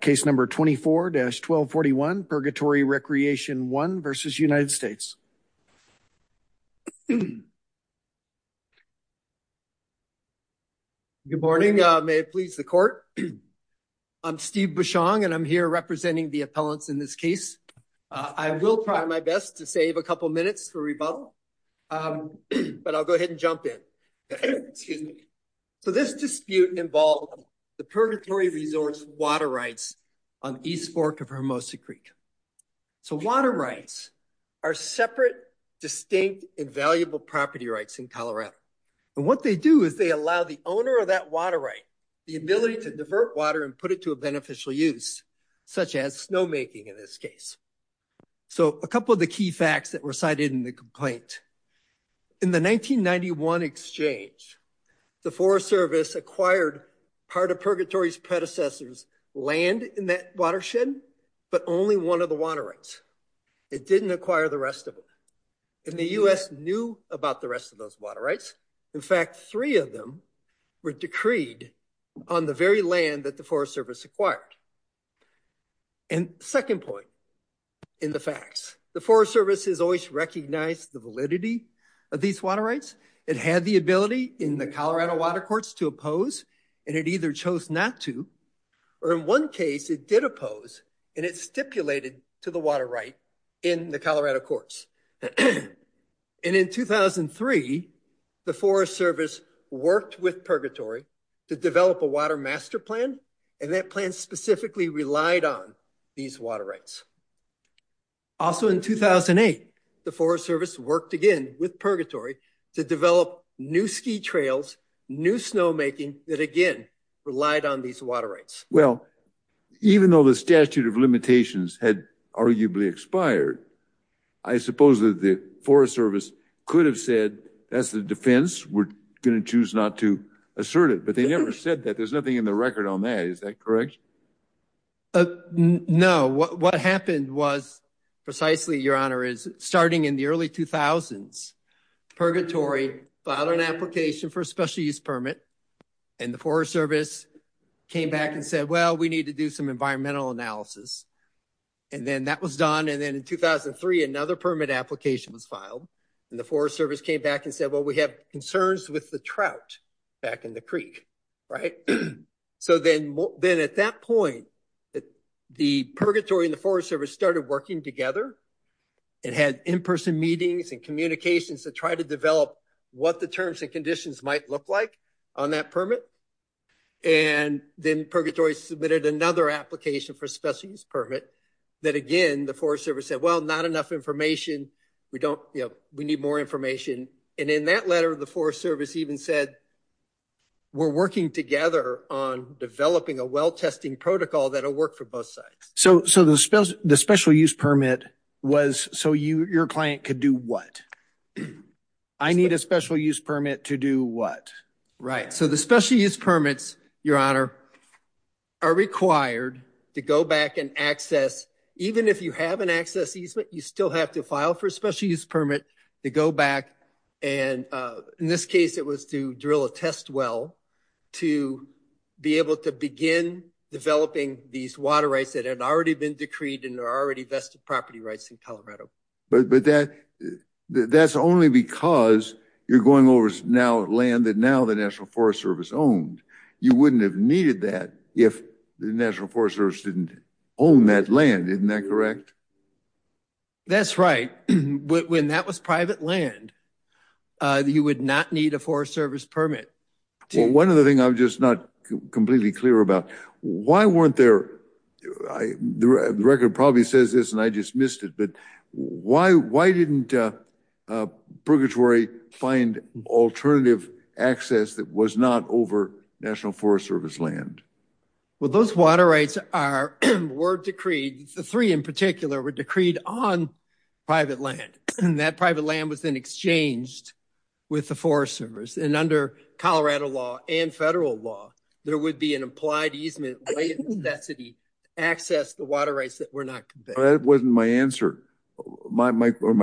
Case number 24-1241 Purgatory Recreation I v. United States. Good morning, may it please the court. I'm Steve Bouchong and I'm here representing the appellants in this case. I will try my best to save a couple minutes for rebuttal, um, but I'll go ahead and jump in. Excuse me. So this dispute involved the purgatory resource water rights on East Fork of Hermosa Creek. So water rights are separate, distinct, invaluable property rights in Colorado. And what they do is they allow the owner of that water right the ability to divert water and put it to a beneficial use, such as snowmaking in this case. So a couple of the key facts that were cited in the complaint. In the 1991 exchange, the Forest Service acquired part of Purgatory's predecessors land in that watershed, but only one of the water rights. It didn't acquire the rest of them. And the U.S. knew about the rest of those water rights. In fact, three of them were decreed on the very land that the Forest Service acquired. And second point in the facts, the Forest Service has always recognized the validity of these water rights. It had the ability in the Colorado water courts to oppose, and it either chose not to, or in one case it did oppose and it stipulated to the water right in the Colorado courts. And in 2003, the Forest Service worked with Purgatory to develop a water plan, and that plan specifically relied on these water rights. Also in 2008, the Forest Service worked again with Purgatory to develop new ski trails, new snowmaking that again relied on these water rights. Well, even though the statute of limitations had arguably expired, I suppose that the Forest Service could have said, that's the defense, we're going to choose not to assert it. They never said that. There's nothing in the record on that. Is that correct? No. What happened was precisely, Your Honor, is starting in the early 2000s, Purgatory filed an application for a special use permit, and the Forest Service came back and said, well, we need to do some environmental analysis. And then that was done. And then in 2003, another permit application was filed, and the Forest Service came back and said, well, we have concerns with the trout back in the creek. So then at that point, the Purgatory and the Forest Service started working together and had in-person meetings and communications to try to develop what the terms and conditions might look like on that permit. And then Purgatory submitted another application for a special use permit that again, the Forest Service said, well, not enough information. We need more information. And in that letter, the Forest Service even said, we're working together on developing a well testing protocol that will work for both sides. So the special use permit was so your client could do what? I need a special use permit to do what? Right. So the special use permits, Your Honor, are required to go back and access, even if you have an access easement, you still have to file for a special use permit to go back. And in this case, it was to drill a test well to be able to begin developing these water rights that had already been decreed and are already vested property rights in Colorado. But that's only because you're going over land that now the National Forest Service owned. You wouldn't have needed that if the National Forest Service didn't own that land. Isn't that correct? That's right. When that was private land, you would not need a Forest Service permit. One of the things I'm just not completely clear about, why weren't there, the record probably says this and I just missed it, but why didn't Purgatory find alternative access that was not over National Forest Service land? Well, those water rights were decreed, the three in particular were decreed on private land. And that private land was then exchanged with the Forest Service. And under Colorado law and federal law, there would be an implied easement necessity to access the water rights that were not. That wasn't my answer. My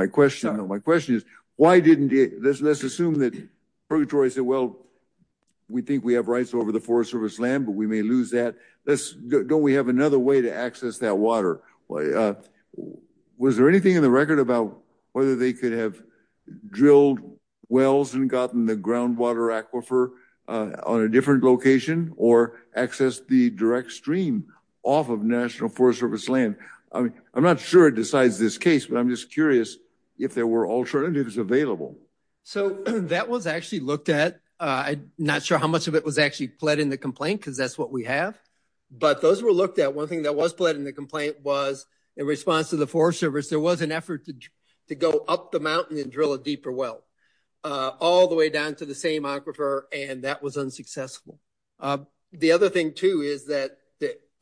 question is, why didn't this assume that Purgatory said, well, we think we have rights over the Forest Service land, but we may lose that. Don't we have another way to access that water? Was there anything in the record about whether they could have drilled wells and gotten the groundwater aquifer on a different location or access the direct stream off of National Forest Service land? I mean, I'm not sure it decides this case, but I'm just curious if there were alternatives available. So, that was actually looked at. I'm not sure how much of it was actually pled in the complaint because that's what we have. But those were looked at. One thing that was pled in the complaint was in response to the Forest Service, there was an effort to go up the mountain and drill a deeper well, all the way down to the same aquifer and that was unsuccessful. The other thing too is that,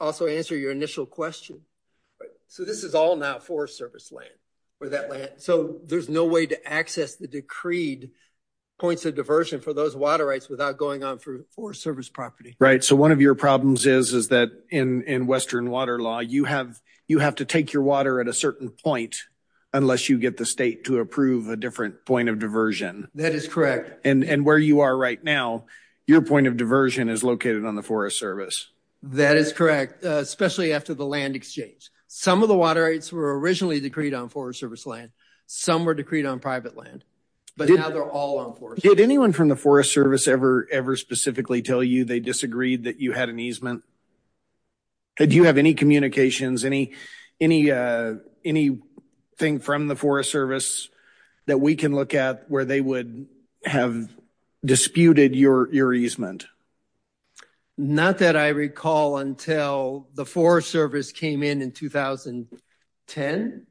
also answer your initial question. So, this is all now Forest Service land. So, there's no way to access the decreed points of diversion for those water rights without going on through Forest Service property. Right. So, one of your problems is that in Western water law, you have to take your water at a certain point unless you get the state to approve a different point of diversion. That is correct. And where you are right now, your point of diversion is located on the Forest Service. That is correct, especially after the land exchange. Some of the water rights were originally decreed on Forest Service land. Some were decreed on private land, but now they're all on Forest Service. Did anyone from the Forest Service ever specifically tell you they disagreed that you had an easement? Do you have any communications, anything from the Forest Service that we can look at where they would have disputed your easement? Not that I recall until the Forest Service came in in 2010.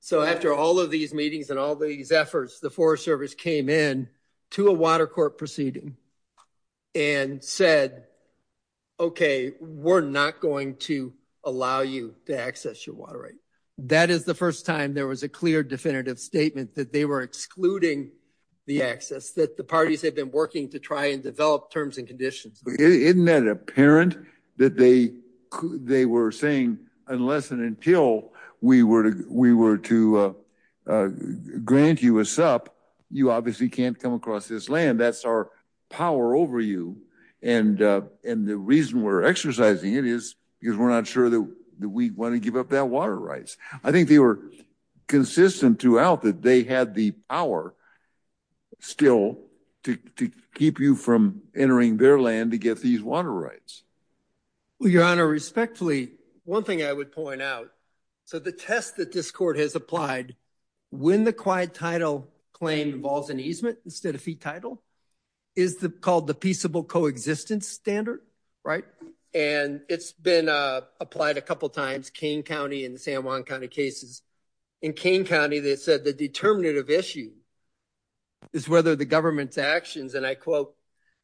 So, after all of these meetings and all these efforts, the Forest Service came in to a water court proceeding and said, okay, we're not going to allow you to access your water right. That is the first time there was a clear definitive statement that they were excluding the access that the parties have been working to try and develop terms and conditions. Isn't that apparent that they were saying, unless and until we were to grant you a sup, you obviously can't come across this land. That's our power over you. And the reason we're exercising it is because we're not sure that we want to give up that water rights. I think they were consistent throughout that they had the power still to keep you from entering their land to get these water rights. Your Honor, respectfully, one thing I would point out, so the test that this court has applied when the quiet title claim involves an easement instead of fee title is called the peaceable coexistence standard, right? And it's been applied a couple times, Kane County and the San Juan County cases. In Kane County, they said the determinative issue is whether the government's actions, and I quote,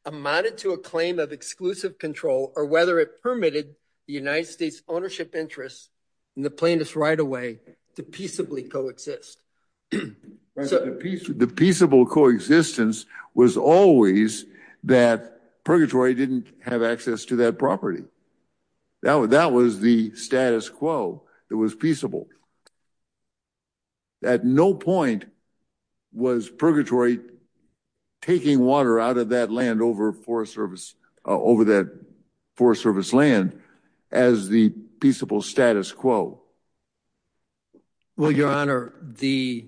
amounted to a claim of exclusive control or whether it permitted the United States ownership interests and the plaintiffs right away to peaceably coexist. The peaceable coexistence was always that purgatory didn't have access to that property. That was the status quo. It was peaceable. At no point was purgatory taking water out of that land over forest service, over that forest service land as the peaceable status quo. Well, Your Honor, the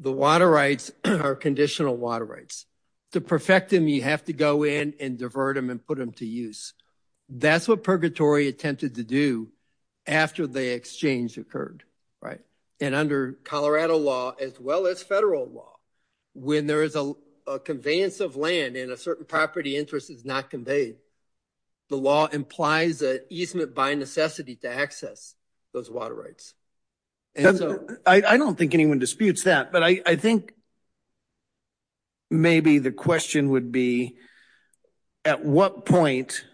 water rights are conditional water rights. To perfect them, you have to go in and divert them and put them to use. That's what purgatory attempted to do after the exchange occurred, right? And under Colorado law, as well as federal law, when there is a conveyance of land and a certain property interest is not conveyed, the law implies an easement by necessity to access those water rights. And so I don't think anyone disputes that, but I think maybe the question would be, at what point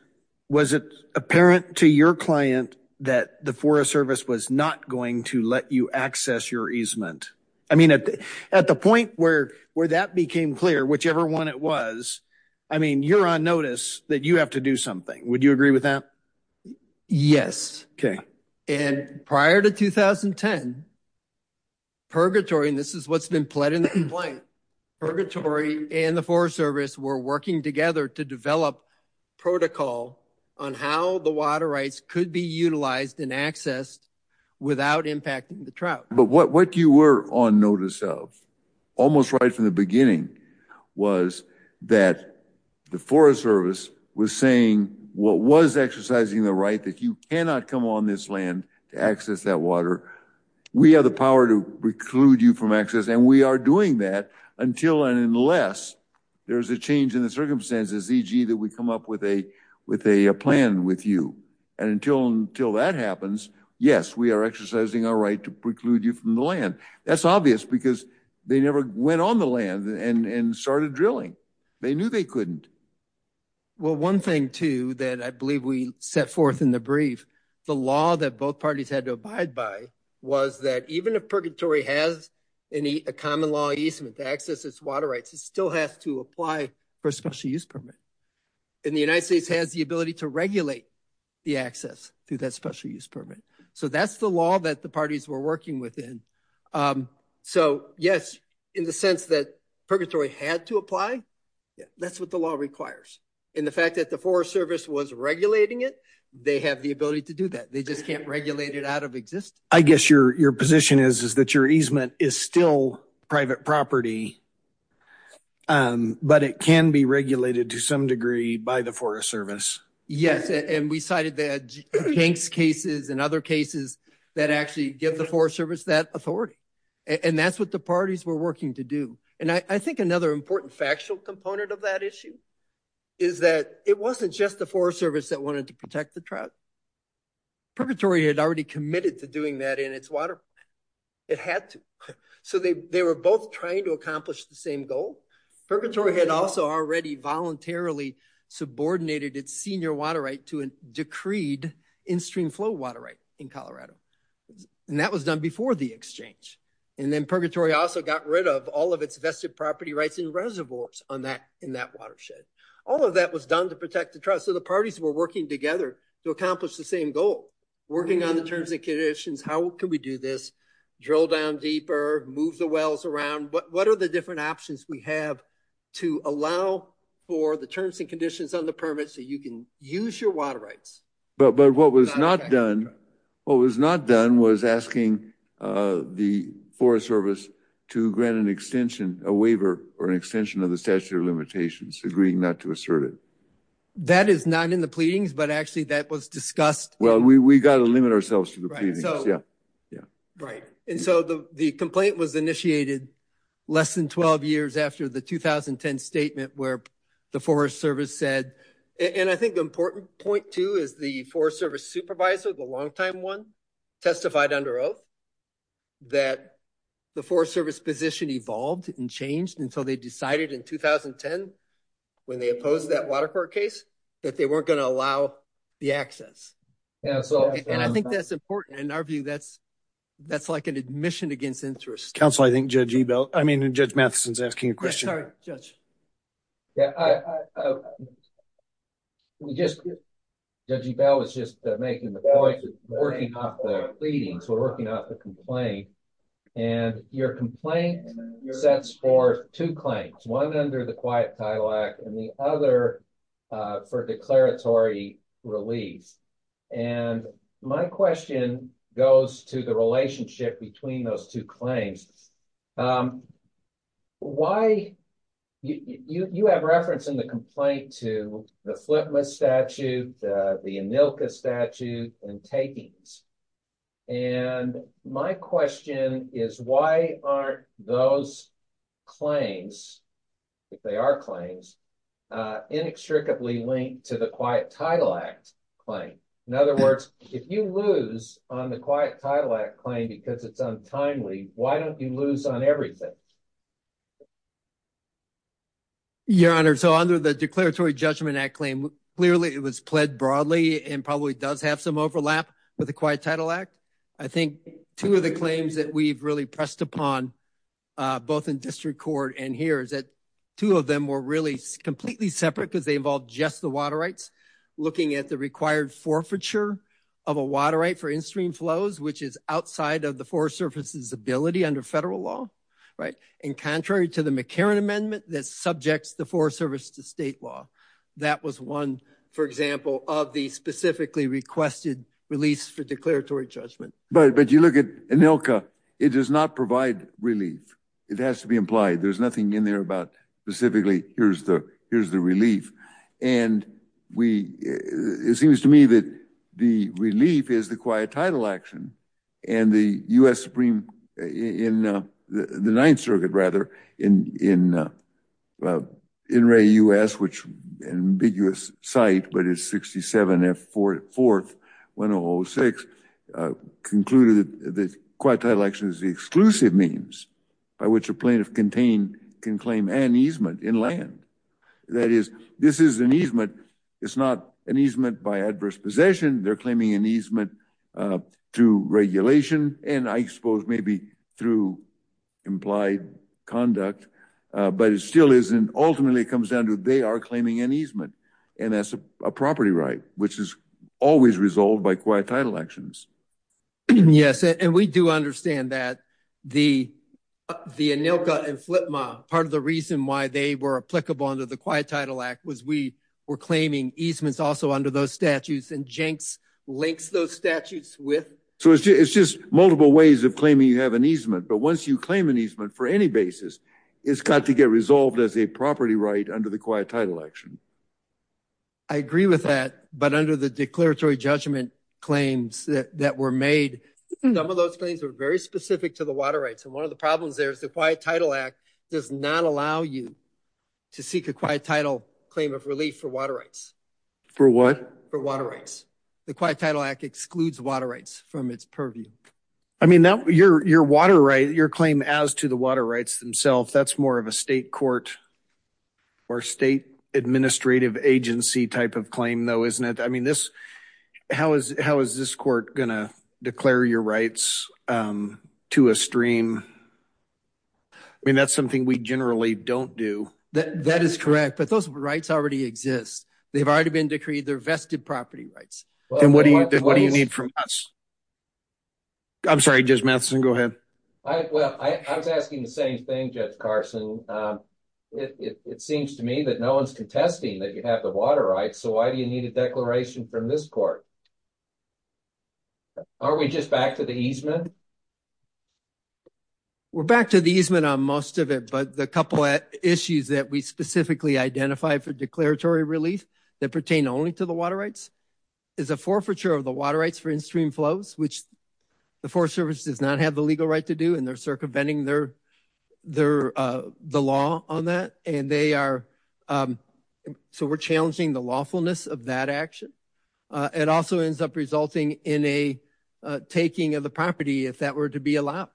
was it apparent to your client that the forest service was not going to let you access your easement? I mean, at the point where that became clear, whichever one it was, I mean, you're on notice that you have to do something. Would you agree with that? Yes. Okay. And prior to 2010, purgatory, and this is what's been pled in the complaint, purgatory and the forest service were working together to develop protocol on how the water rights could be utilized and accessed without impacting the trout. But what you were on notice almost right from the beginning was that the forest service was saying what was exercising the right that you cannot come on this land to access that water. We have the power to preclude you from access and we are doing that until and unless there's a change in the circumstances, e.g. that we come up with a plan with you. And until that happens, yes, we are exercising our to preclude you from the land. That's obvious because they never went on the land and started drilling. They knew they couldn't. Well, one thing too that I believe we set forth in the brief, the law that both parties had to abide by was that even if purgatory has a common law easement to access its water rights, it still has to apply for a special use permit. And the United States has the ability to regulate the access through that special use permit. So that's the law that parties were working within. So, yes, in the sense that purgatory had to apply, that's what the law requires. And the fact that the forest service was regulating it, they have the ability to do that. They just can't regulate it out of existence. I guess your position is that your easement is still private property, but it can be regulated to some degree by the forest service. Yes. And we cited the banks cases and other cases that actually give the forest service that authority. And that's what the parties were working to do. And I think another important factual component of that issue is that it wasn't just the forest service that wanted to protect the trout. Purgatory had already committed to doing that in its water. It had to. So they were both trying to accomplish the same goal. Purgatory had also already voluntarily subordinated its senior water right to a decreed in-stream flow water right in Colorado. And that was done before the exchange. And then purgatory also got rid of all of its vested property rights in reservoirs in that watershed. All of that was done to protect the trout. So the parties were working together to accomplish the same goal, working on the terms and conditions, how can we do this, drill down deeper, move the wells around. What are the different options we have to allow for terms and conditions on the permit so you can use your water rights. But what was not done, what was not done was asking the forest service to grant an extension, a waiver or an extension of the statute of limitations, agreeing not to assert it. That is not in the pleadings, but actually that was discussed. Well, we got to limit ourselves to the pleadings. Yeah. Right. And so the complaint was initiated less than 12 years after the 2010 statement where the forest service said, and I think the important point too, is the forest service supervisor, the longtime one testified under oath that the forest service position evolved and changed until they decided in 2010 when they opposed that water court case, that they weren't going to allow the access. And I think that's important in our view. That's like an admission against interest. Councilor, I think Judge Ebel, I mean, Judge Matheson's asking a question. Judge Ebel was just making the point that we're working off the pleadings, we're working off the complaint. And your complaint sets forth two claims, one under the Quiet Title Act and the other for declaratory release. And my question goes to the relationship between those two claims, um, why, you have reference in the complaint to the FLIPMA statute, the ANILCA statute, and takings. And my question is why aren't those claims, if they are claims, inextricably linked to the Quiet Title Act claim? In other words, if you lose on the Quiet Title Act claim because it's untimely, why don't you lose on everything? Your Honor, so under the Declaratory Judgment Act claim, clearly it was pled broadly and probably does have some overlap with the Quiet Title Act. I think two of the claims that we've really pressed upon, uh, both in district court and here is that two of them were really completely separate because they involved just the water rights, looking at the required forfeiture of a water right for in-stream flows, which is outside of the Forest Service's ability under federal law, right? And contrary to the McCarran Amendment that subjects the Forest Service to state law, that was one, for example, of the specifically requested release for declaratory judgment. But you look at ANILCA, it does not provide relief. It has to be implied. There's nothing in there about specifically, here's the, here's the relief. And we, it seems to me that the relief is the Quiet Title Action and the U.S. Supreme, in the Ninth Circuit, rather, in, in, uh, in Ray, U.S., which an ambiguous site, but it's 67 F 4th 1006, uh, concluded that the Quiet Title Action is the exclusive means by which a plaintiff can claim an easement in land. That is, this is an easement. It's not an easement by adverse possession. They're claiming an easement, uh, to regulation. And I suppose maybe through implied conduct, uh, but it still isn't, ultimately it comes down to they are claiming an easement and that's a property right, which is always resolved by Quiet Title Actions. Yes. And we do understand that the, the ANILCA and FLIPMA, part of the reason why they were applicable under the Quiet Title Act was we were claiming easements also under those statutes and Jenks links those statutes with. So it's, it's just multiple ways of claiming you have an easement, but once you claim an easement for any basis, it's got to get resolved as a property right under the Quiet Title Action. I agree with that, but under the declaratory judgment claims that were made, some of those claims are very specific to the water rights. And one of the problems there is the Quiet Title Act does not allow you to seek a Quiet Title claim of relief for water rights. For what? For water rights. The Quiet Title Act excludes water rights from its purview. I mean, now your, your water right, your claim as to the water rights themselves, that's more of a state court or state administrative agency type of claim though, isn't it? I mean, this, how is, how is this court going to declare your rights to a stream? I mean, that's something we generally don't do. That, that is correct, but those rights already exist. They've already been decreed. They're vested property rights. And what do you, what do you need from us? I'm sorry, Judge Matheson, go ahead. Well, I was asking the same thing, Judge Carson. It, it seems to me that no one's contesting that you have the water rights. So why do you need a declaration from this court? Are we just back to the easement? We're back to the easement on most of it, but the couple of issues that we specifically identify for declaratory relief that pertain only to the water rights is a forfeiture of the water rights for in-stream flows, which the Forest Service does not have the legal right to do, and they're circumventing their, their, the law on that. And they are, so we're challenging the forfeiture of the water rights for in-stream flows. And that also ends up resulting in a taking of the property, if that were to be allowed.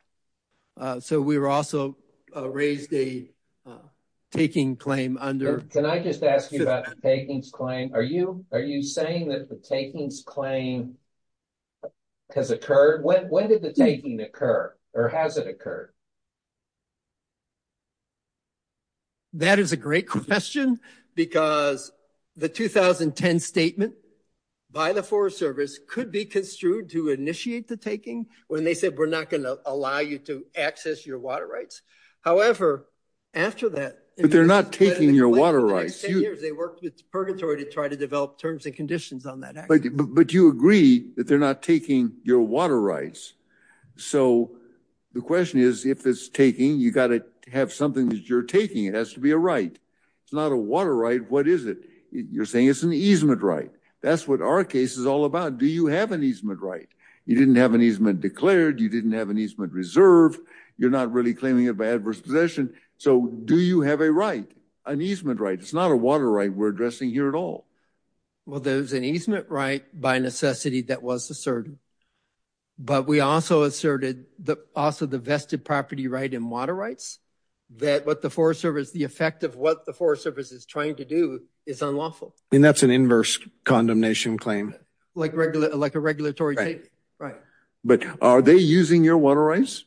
So we were also raised a taking claim under... Can I just ask you about the takings claim? Are you, are you saying that the takings claim has occurred? When, when did the taking occur or has it occurred? That is a great question because the 2010 statement by the Forest Service could be construed to initiate the taking when they said we're not going to allow you to access your water rights. However, after that... But they're not taking your water rights. They worked with Purgatory to try to develop terms and conditions on that. But you agree that they're not taking your water rights. So the question is, if it's taking, you got to have something that you're taking. It has to be a right. It's not a water right. What is it? You're saying it's an easement right. That's what our case is all about. Do you have an easement right? You didn't have an easement declared. You didn't have an easement reserve. You're not really claiming it by adverse possession. So do you have a right, an easement right? It's not a water right we're addressing here at all. Well, there's an easement right by necessity that was asserted. But we also asserted that also the vested property right and water rights, that what the Forest Service, the effect of what the Forest Service is trying to do is unlawful. And that's an inverse condemnation claim. Like regular, like a regulatory right. But are they using your water rights?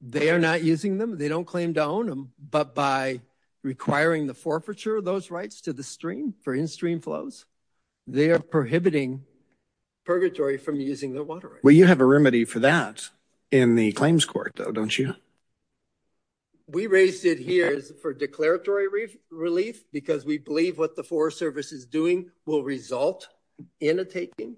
They are not using them. They don't claim to own them. But by requiring the forfeiture of those rights to the stream for in-stream flows, they are prohibiting purgatory from using their water. Well, you have a remedy for that in the claims court though, don't you? We raised it here for declaratory relief because we believe what the Forest Service is doing will result in a taking.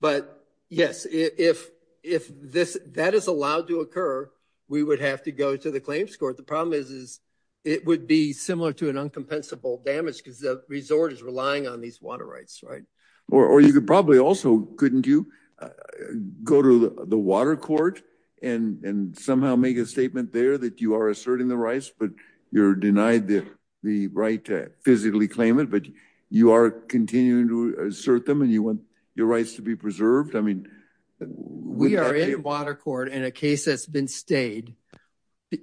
But yes, if that is allowed to occur, we would have to go to the claims court. The problem is, is it would be similar to an uncompensable damage because the resort is relying on these water rights, right? Or you could probably also, couldn't you, go to the water court and somehow make a statement there that you are asserting the rights, but you're denied the right to physically claim it, but you are continuing to assert them and you want your rights to be preserved. I mean... We are in water court in a case that's been stayed.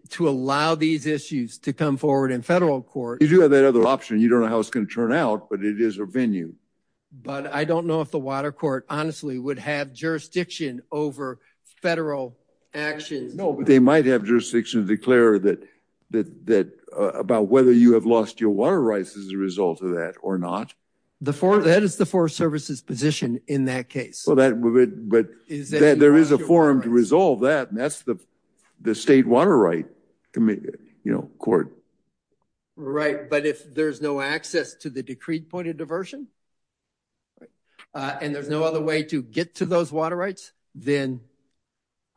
To allow these issues to come forward in federal court... You do have that other option. You don't know how it's going to turn out, but it is a venue. But I don't know if the water court honestly would have jurisdiction over federal actions. No, but they might have jurisdiction to declare that about whether you have lost your water rights as a result of that or not. That is the Forest Service's position in that case. But there is a forum to resolve that, and that's the state water right court. Right, but if there's no access to the decreed point of diversion, and there's no other way to get to those water rights, then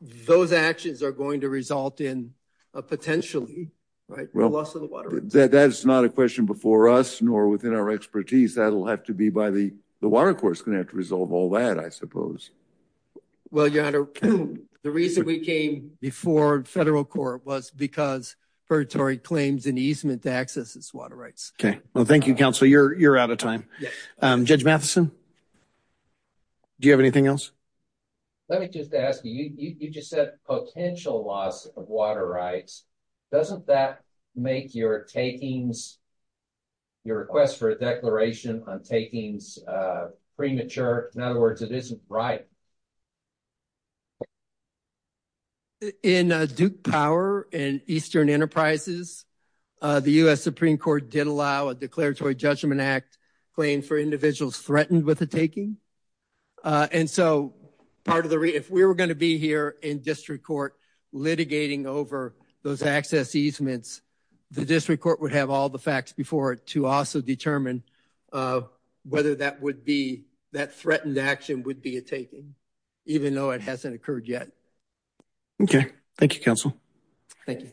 those actions are going to result in a potentially loss of the water rights. That's not a question before us, nor within our expertise. That'll have to be by the before federal court was because puritory claims in easement to access this water rights. Okay, well thank you counsel. You're out of time. Judge Matheson, do you have anything else? Let me just ask you, you just said potential loss of water rights. Doesn't that make your takings, your request for a declaration on takings premature? In other words, it isn't right. In Duke Power and Eastern Enterprises, the U.S. Supreme Court did allow a declaratory judgment act claim for individuals threatened with a taking. And so part of the, if we were going to be here in district court litigating over those access easements, the district court would have all the facts before it to also determine whether that would be, that threatened action would be a taking, even though it hasn't occurred yet. Okay, thank you counsel. Thank you.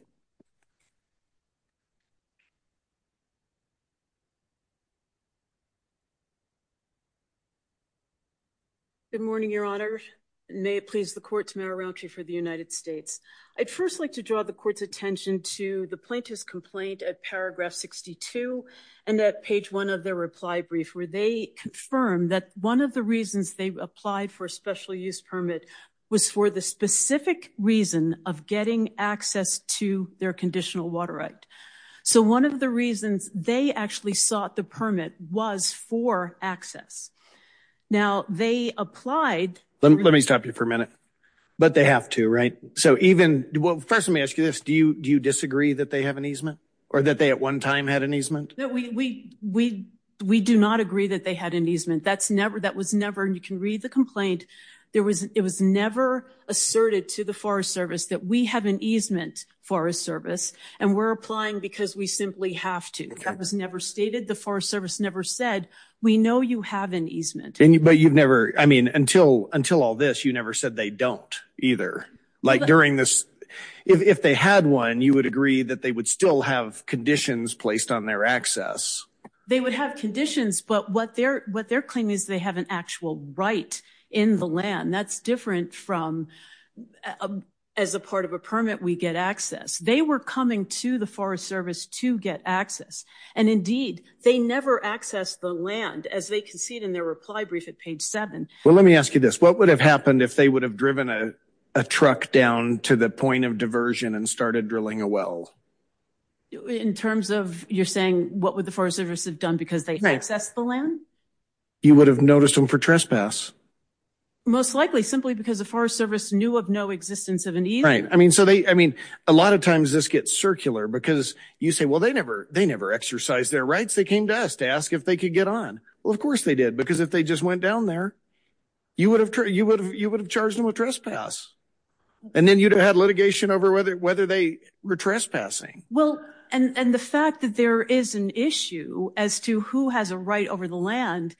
Good morning, your honor. May it please the courts, Mayor Raunchy for the United States. I'd first like to draw the court's attention to the plaintiff's complaint at paragraph 62 and that page one of their reply brief where they confirm that one of the reasons they applied for a special use permit was for the specific reason of getting access to their conditional water right. So one of the reasons they actually sought the permit was for access. Now they applied. Let me stop you for a minute, but they have to, right? So even, well first let me ask you this, do you disagree that they have an easement or that they at one time had an easement? We do not agree that they had an easement. That's never, that was never, and you can read the complaint, it was never asserted to the Forest Service that we have an easement for a service and we're applying because we simply have to. That was never stated. The Forest Service never said, we know you have an easement. But you've never, I mean until all this, you never said they don't either. Like during this, if they had one, you would agree that they would still have conditions placed on their access. They would have conditions, but what their claim is they have an actual right in the land. That's different from as a part of a permit we get access. They were coming to the Forest Service to get access and indeed they never accessed the land as they concede in their reply brief at page seven. Well let me ask you this, what would have happened if they would have driven a truck down to the point of diversion and started drilling a well? In terms of what would the Forest Service have done because they had access to the land? You would have noticed them for trespass. Most likely simply because the Forest Service knew of no existence of an easement. Right, I mean so they, I mean a lot of times this gets circular because you say, well they never exercised their rights. They came to us to ask if they could get on. Well of course they did because if they just went down there, you would have charged them a trespass and then you'd have had litigation over whether they were trespassing. Well and the fact that there is an issue as to who has a right over the land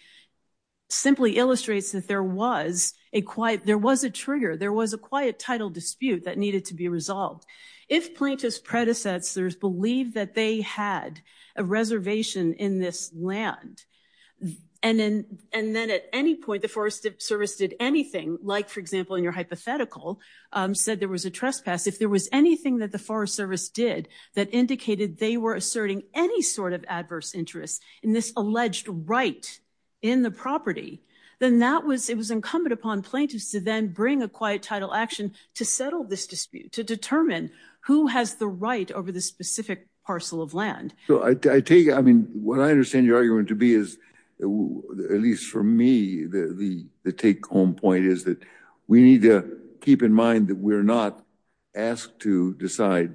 simply illustrates that there was a quiet, there was a trigger, there was a quiet title dispute that needed to be resolved. If plaintiff's predecessors believed that they had a reservation in this land and then at any point the Forest Service did anything, like for example in your hypothetical, said there was a any sort of adverse interest in this alleged right in the property, then that was, it was incumbent upon plaintiffs to then bring a quiet title action to settle this dispute, to determine who has the right over the specific parcel of land. So I take, I mean what I understand your argument to be is, at least for me, the take-home point is that we need to keep in mind that we're not asked to decide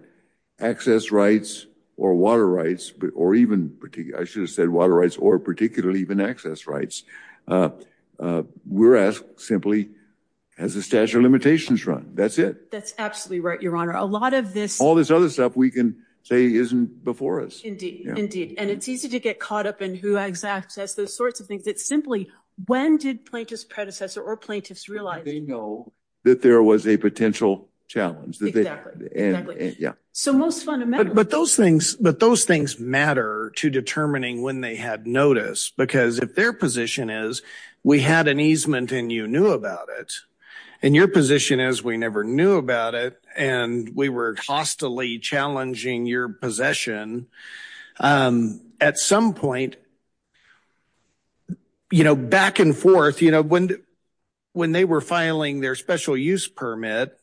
access rights or water rights, or even particular, I should have said water rights, or particularly even access rights. We're asked simply, has the statute of limitations run? That's it. That's absolutely right, your honor. A lot of this, all this other stuff we can say isn't before us. Indeed, indeed, and it's easy to get caught up in who has access, those sorts of things. It's simply, when did plaintiff's predecessor or plaintiffs realize they know that there was a potential challenge? Exactly, exactly. So most fundamentally. But those things, but those things matter to determining when they had notice, because if their position is, we had an easement and you knew about it, and your position is, we never knew about it, and we were hostily challenging your possession, at some point, you know, back and forth, you know, when they were filing their special use permit,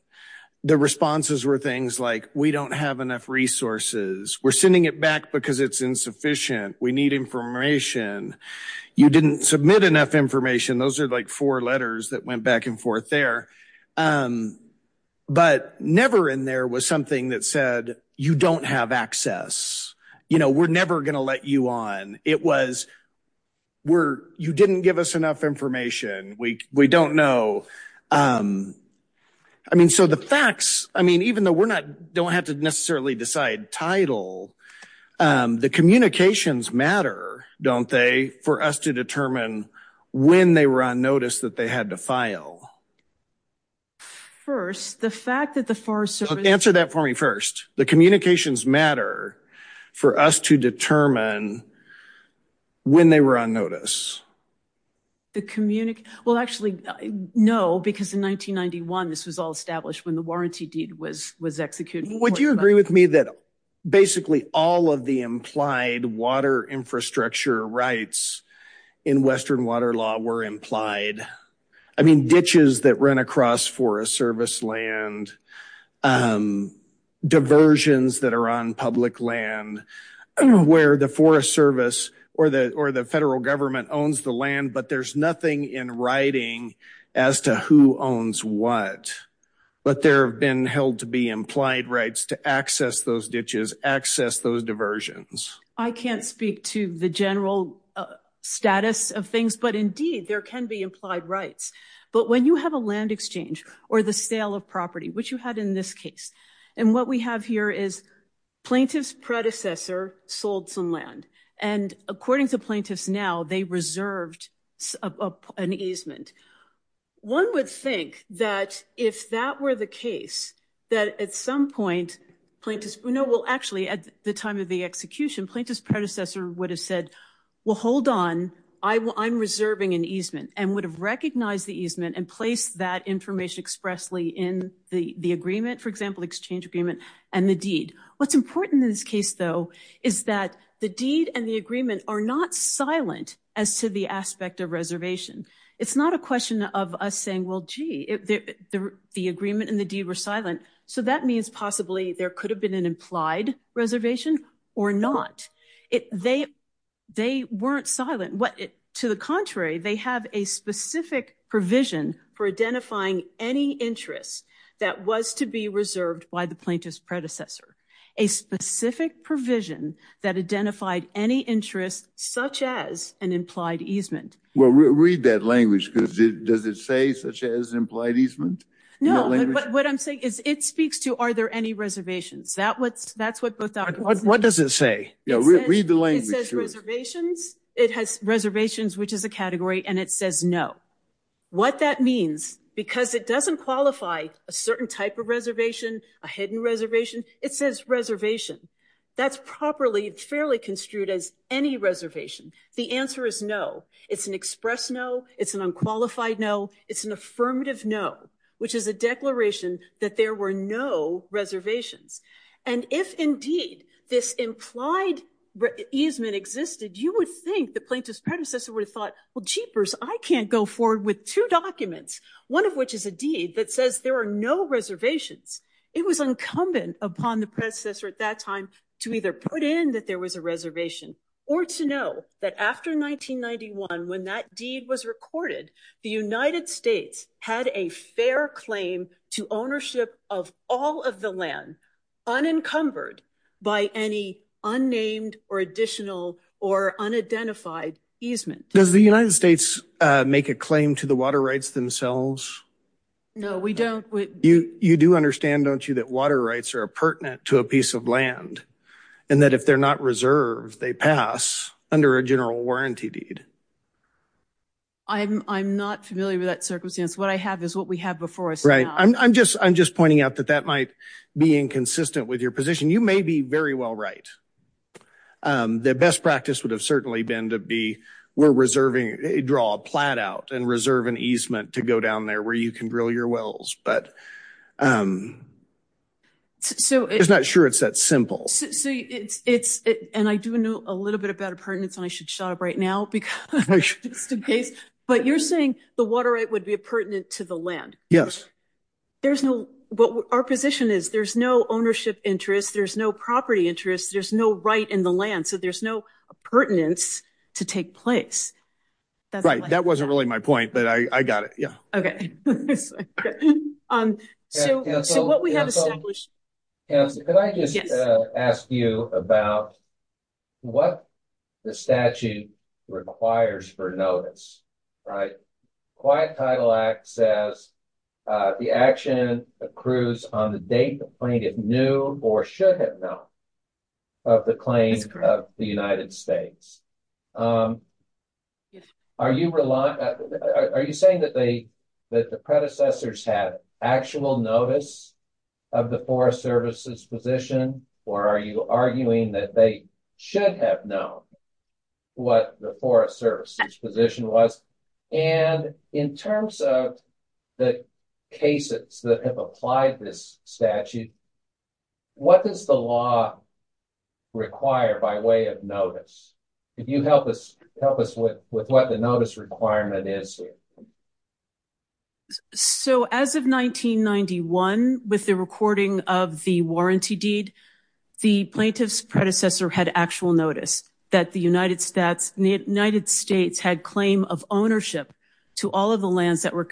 the responses were things like, we don't have enough resources, we're sending it back because it's insufficient, we need information, you didn't submit enough information. Those are like four letters that went back and forth there. But never in there was something that said, you don't have access, you know, we're never going to let you on. It was, you didn't give us enough information, we don't know. I mean, so the facts, I mean, even though we're not, don't have to necessarily decide title, the communications matter, don't they, for us to determine when they were on notice that they had to file. First, the fact that the Forest Service. Answer that for me first, the communications matter for us to determine when they were on notice. The, well actually, no, because in 1991, this was all established when the warranty deed was executed. Would you agree with me that basically all of the implied water infrastructure rights in Western water law were implied? I mean, ditches that run across Forest Service land, diversions that are on public land, where the Forest Service or the federal government owns the land, but there's nothing in writing as to who owns what. But there have been held to be implied rights to access those ditches, access those diversions. I can't speak to the general status of things, but indeed there can be implied rights. But when you have a land exchange or the sale of property, which you had in this case, and what we have here is plaintiff's predecessor sold some land. And according to plaintiffs now, they reserved an easement. One would think that if that were the case, that at some point plaintiffs, no, well actually at the time of the execution, plaintiff's predecessor would have said, well, hold on, I'm reserving an easement, and would have recognized the easement and placed that information expressly in the agreement, for example, exchange agreement and the deed. What's important in this case though, is that the deed and the agreement are not silent as to the aspect of reservation. It's not a question of us saying, well, gee, the agreement and the deed were silent. So that means possibly there could have been an implied reservation or not. They weren't silent. To the contrary, they have a specific provision for identifying any interest that was to be reserved by the plaintiff's predecessor. A specific provision that identified any interest such as an implied easement. Well, read that language because does it say such as implied easement? No, but what I'm saying is it speaks to, are there any reservations? That's what both documents say. What does it say? Read the language. It says reservations. It has reservations, which is a category, and it says no. What that means, because it doesn't qualify a certain type of reservation, a hidden reservation, it says reservation. That's properly, fairly construed as any reservation. The answer is no. It's an express no. It's an unqualified no. It's an affirmative no, which is a declaration that there were no reservations. And if indeed this implied easement existed, you would think the plaintiff's predecessor would have thought, well, jeepers, I can't go forward with two documents, one of which is a deed that says there are no reservations. It was incumbent upon the predecessor at that time to either put in that there was a reservation or to know that after 1991, when that deed was recorded, the United States had a fair claim to ownership of all of the land unencumbered by any unnamed or additional or unidentified easement. Does the United States make a claim to the water rights themselves? No, we don't. You do understand, don't you, that water rights are pertinent to a piece of land and that if they're not reserved, they pass under a general warranty deed? I'm not familiar with that circumstance. What I have is what we have before us now. Right. I'm just pointing out that that might be inconsistent with your position. You may be very well right. The best practice would have certainly been to be, we're reserving, draw a plat out and go down there where you can drill your wells, but I'm not sure it's that simple. And I do know a little bit about appurtenance, and I should shut up right now, but you're saying the water right would be pertinent to the land? Yes. Our position is there's no ownership interest, there's no property interest, there's no right in the land, so there's no appurtenance to take place. Right. That wasn't really my point, but I got it. Yeah. Okay. Can I just ask you about what the statute requires for notice, right? Quiet Title Act says the action accrues on the date the plaintiff knew or should have known of the claim of the United States. Are you saying that the predecessors had actual notice of the Forest Service's position, or are you arguing that they should have known what the Forest Service's position was? And in terms of the cases that have applied this statute, what does the law require by way of notice? Can you help us with what the notice requirement is here? So as of 1991, with the recording of the warranty deed, the plaintiff's predecessor had actual notice that the United States had claim of ownership to all of the lands that were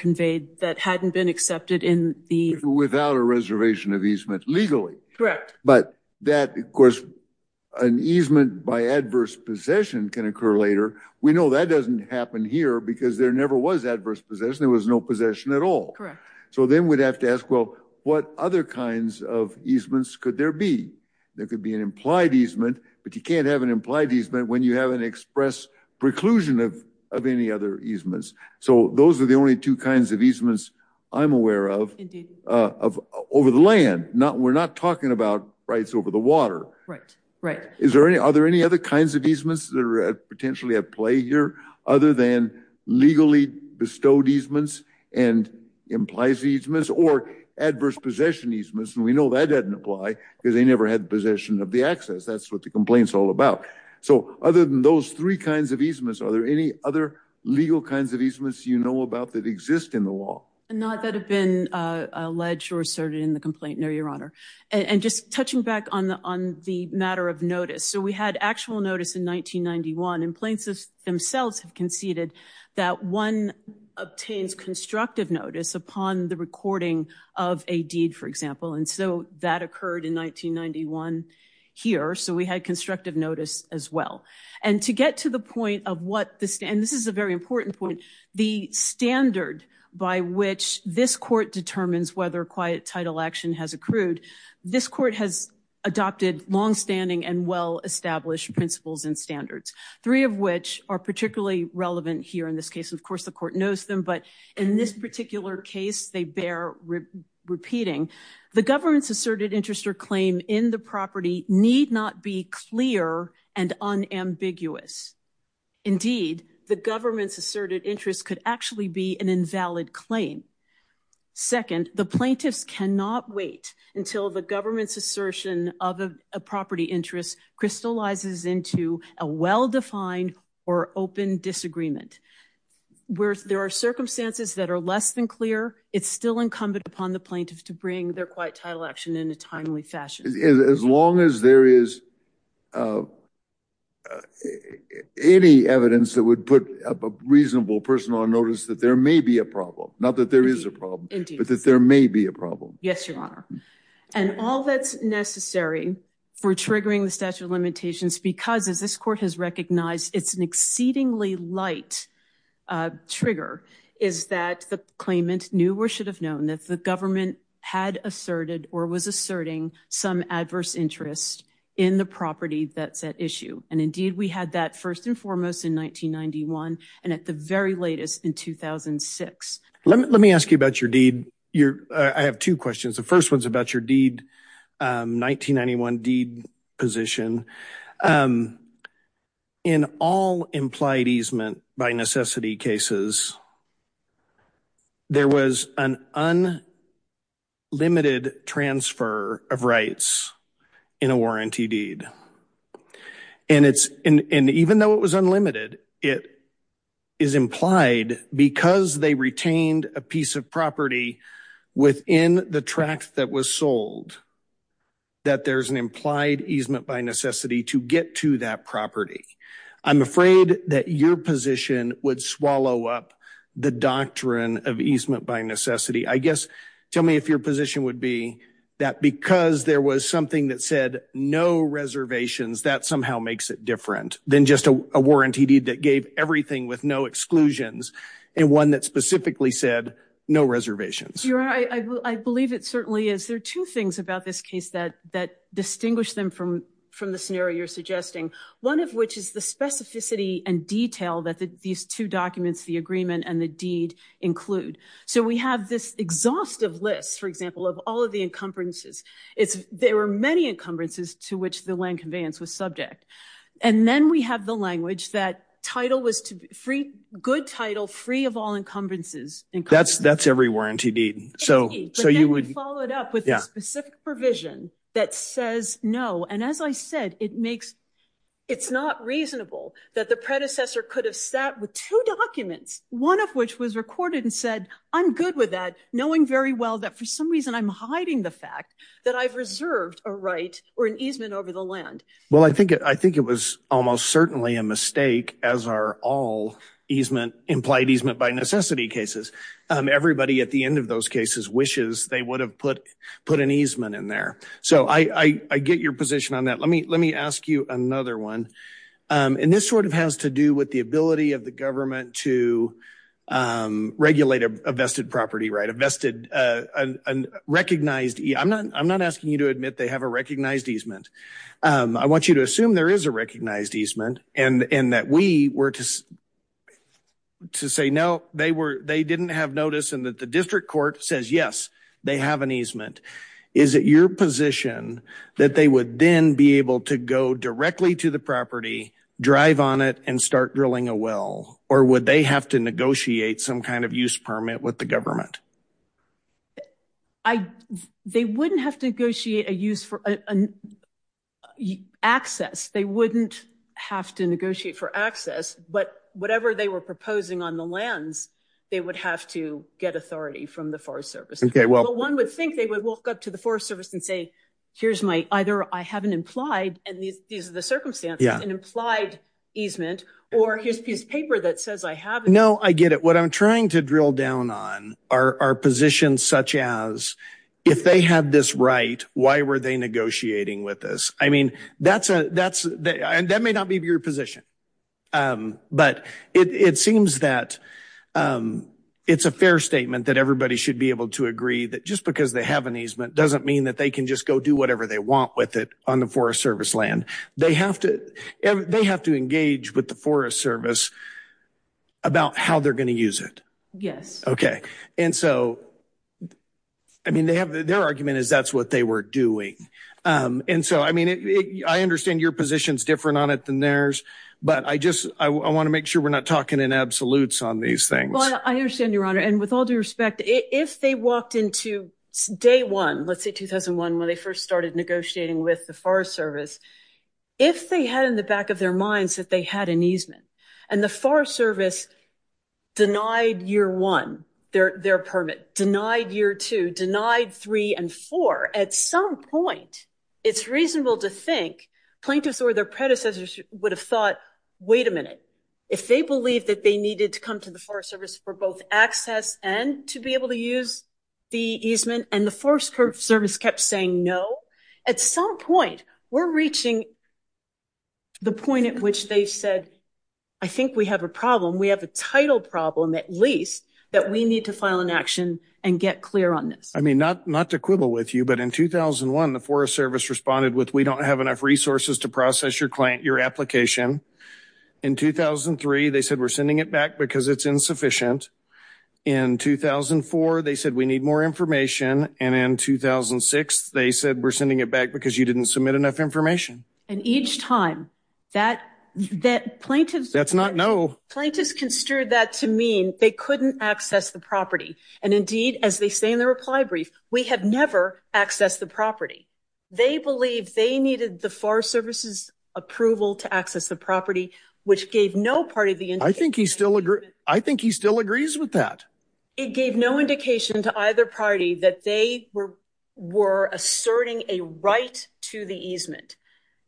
an easement by adverse possession can occur later. We know that doesn't happen here because there never was adverse possession. There was no possession at all. So then we'd have to ask, well, what other kinds of easements could there be? There could be an implied easement, but you can't have an implied easement when you haven't expressed preclusion of any other easements. So those are the only two kinds of easements I'm aware of over the land. We're not talking about rights over the water. Are there any other kinds of easements that are potentially at play here other than legally bestowed easements and implies easements or adverse possession easements? And we know that doesn't apply because they never had possession of the access. That's what the complaint's all about. So other than those three kinds of easements, are there any other legal kinds of easements you know about that exist in the law? Not that have been alleged or asserted in the complaint, no, Your Honor. And just touching back on the matter of notice. So we had actual notice in 1991, and plaintiffs themselves have conceded that one obtains constructive notice upon the recording of a deed, for example. And so that occurred in 1991 here. So we had constructive notice as well. And to get to the point of what the standard, and this is a very has accrued. This court has adopted long-standing and well-established principles and standards, three of which are particularly relevant here in this case. Of course, the court knows them. But in this particular case, they bear repeating. The government's asserted interest or claim in the property need not be clear and unambiguous. Indeed, the government's asserted interest could actually be an invalid claim. Second, the plaintiffs cannot wait until the government's assertion of a property interest crystallizes into a well-defined or open disagreement. Where there are circumstances that are less than clear, it's still incumbent upon the plaintiffs to bring their quiet title action in a timely fashion. As long as there is any evidence that would put a reasonable person on notice that there may be a problem, not that there is a problem, but that there may be a problem. Yes, Your Honor. And all that's necessary for triggering the statute of limitations, because as this court has recognized, it's an exceedingly light trigger, is that the claimant knew or should have known that the had asserted or was asserting some adverse interest in the property that's at issue. And indeed, we had that first and foremost in 1991 and at the very latest in 2006. Let me ask you about your deed. I have two questions. The first one's about your 1991 deed position. In all implied easement by necessity cases, there was an unlimited transfer of rights in a warranty deed. And even though it was unlimited, it is implied because they retained a piece of property within the tract that was sold, that there's an implied easement by necessity to get to that property. I'm afraid that your position would swallow up the doctrine of easement by necessity. I guess, tell me if your position would be that because there was something that said no reservations, that somehow makes it different than just a warranty deed that gave everything with no exclusions and one that that distinguished them from the scenario you're suggesting, one of which is the specificity and detail that these two documents, the agreement and the deed include. So we have this exhaustive list, for example, of all of the encumbrances. There were many encumbrances to which the land conveyance was subject. And then we have the language that title was to be free, good title, free of all encumbrances. That's every warranty deed. So you would follow it up with a specific provision that says no. And as I said, it's not reasonable that the predecessor could have sat with two documents, one of which was recorded and said, I'm good with that, knowing very well that for some reason, I'm hiding the fact that I've reserved a right or an easement over the land. Well, I think I think it was almost certainly a mistake as are all easement implied easement by necessity cases. Everybody at the end of those cases wishes they would have put put an easement in there. So I get your position on that. Let me let me ask you another one. And this sort of has to do with the ability of the government to regulate a vested property, right? A vested recognized. I'm not I'm not asking you to admit they have a recognized easement. I want you to assume there is a recognized easement and that we were just to say, no, they were they didn't have notice and that the district court says, yes, they have an easement. Is it your position that they would then be able to go directly to the property, drive on it and start drilling a well? Or would they have to negotiate some kind of negotiate a use for an access? They wouldn't have to negotiate for access, but whatever they were proposing on the lands, they would have to get authority from the Forest Service. Well, one would think they would walk up to the Forest Service and say, here's my either. I haven't implied. And these are the circumstances and implied easement or his piece of paper that says I have. No, I get it. What I'm trying to drill down on are positions such as if they had this right, why were they negotiating with us? I mean, that's that's and that may not be your position, but it seems that it's a fair statement that everybody should be able to agree that just because they have an easement doesn't mean that they can just go do whatever they want with it on the Forest Service land. They have to they have to engage with the Forest Service about how they're going to use it. Yes. OK. And so I mean, they have their argument is that's what they were doing. And so, I mean, I understand your position is different on it than theirs. But I just I want to make sure we're not talking in absolutes on these things. I understand, Your Honor. And with all due respect, if they walked into day one, let's say 2001, when they first started negotiating with the Forest Service, if they had in the back of their minds that they had an easement and the Forest Service denied year one their permit, denied year two, denied three and four, at some point it's reasonable to think plaintiffs or their predecessors would have thought, wait a minute, if they believe that they needed to come to the Forest Service for both access and to be able to use the easement and the Forest Service kept saying no, at some point we're reaching the point at which they said, I think we have a problem. We have a title problem, at least, that we need to file an action and get clear on this. I mean, not to quibble with you, but in 2001, the Forest Service responded with we don't have enough resources to process your client, your application. In 2003, they said we're sending it back because it's insufficient. In 2004, they said we need more information. And in 2006, they said we're sending it back because you didn't submit enough information. And each time that plaintiffs... That's not no. Plaintiffs construed that to mean they couldn't access the property. And indeed, as they say in the reply brief, we have never accessed the property. They believe they needed the Forest Service's approval to access the property, which gave no part of the... I think he still agrees with that. It gave no indication to either party that they were asserting a right to the easement.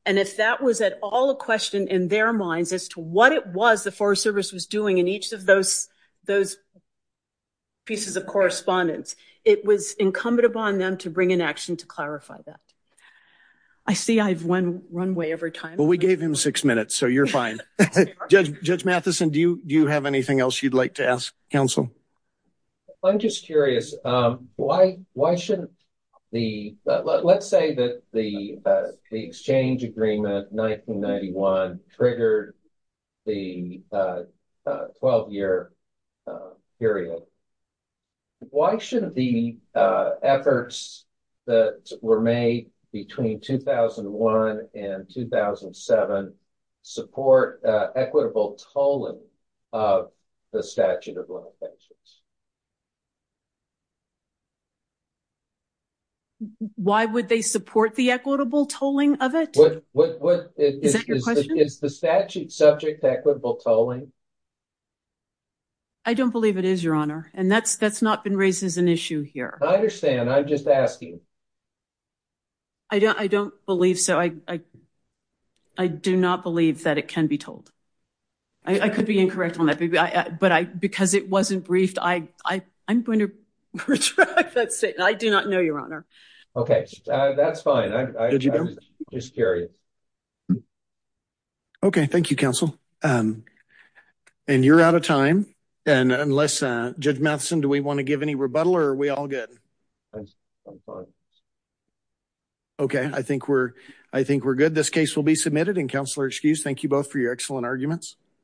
And if that was at all a question in their minds as to what it was the Forest Service was doing in each of those pieces of correspondence, it was incumbent upon them to bring an action to clarify that. I see I've run way over time. Well, we gave him six minutes, so you're fine. Judge Matheson, do you have anything else you'd like to ask counsel? I'm just curious. Why shouldn't the... Let's say that the exchange agreement 1991 triggered the 12-year period. Why shouldn't the efforts that were made between 2001 and 2007 support equitable tolling of the statute of limitations? Why would they support the equitable tolling of it? Is that your question? Is the statute subject to equitable tolling? I don't believe it is, Your Honor. And that's not been raised as an issue here. I understand. I'm just asking. I don't believe so. I do not believe that it can be told. I could be incorrect on that, but because it wasn't briefed, I'm going to retract that statement. I do not know, Your Honor. Okay. That's fine. I'm just curious. Okay. Thank you, counsel. And you're out of time. And unless... Judge Matheson, do we want to give any rebuttal or are we all good? I'm fine. Okay. I think we're good. This case will be submitted. And, counselor, excuse, thank you both for your excellent arguments.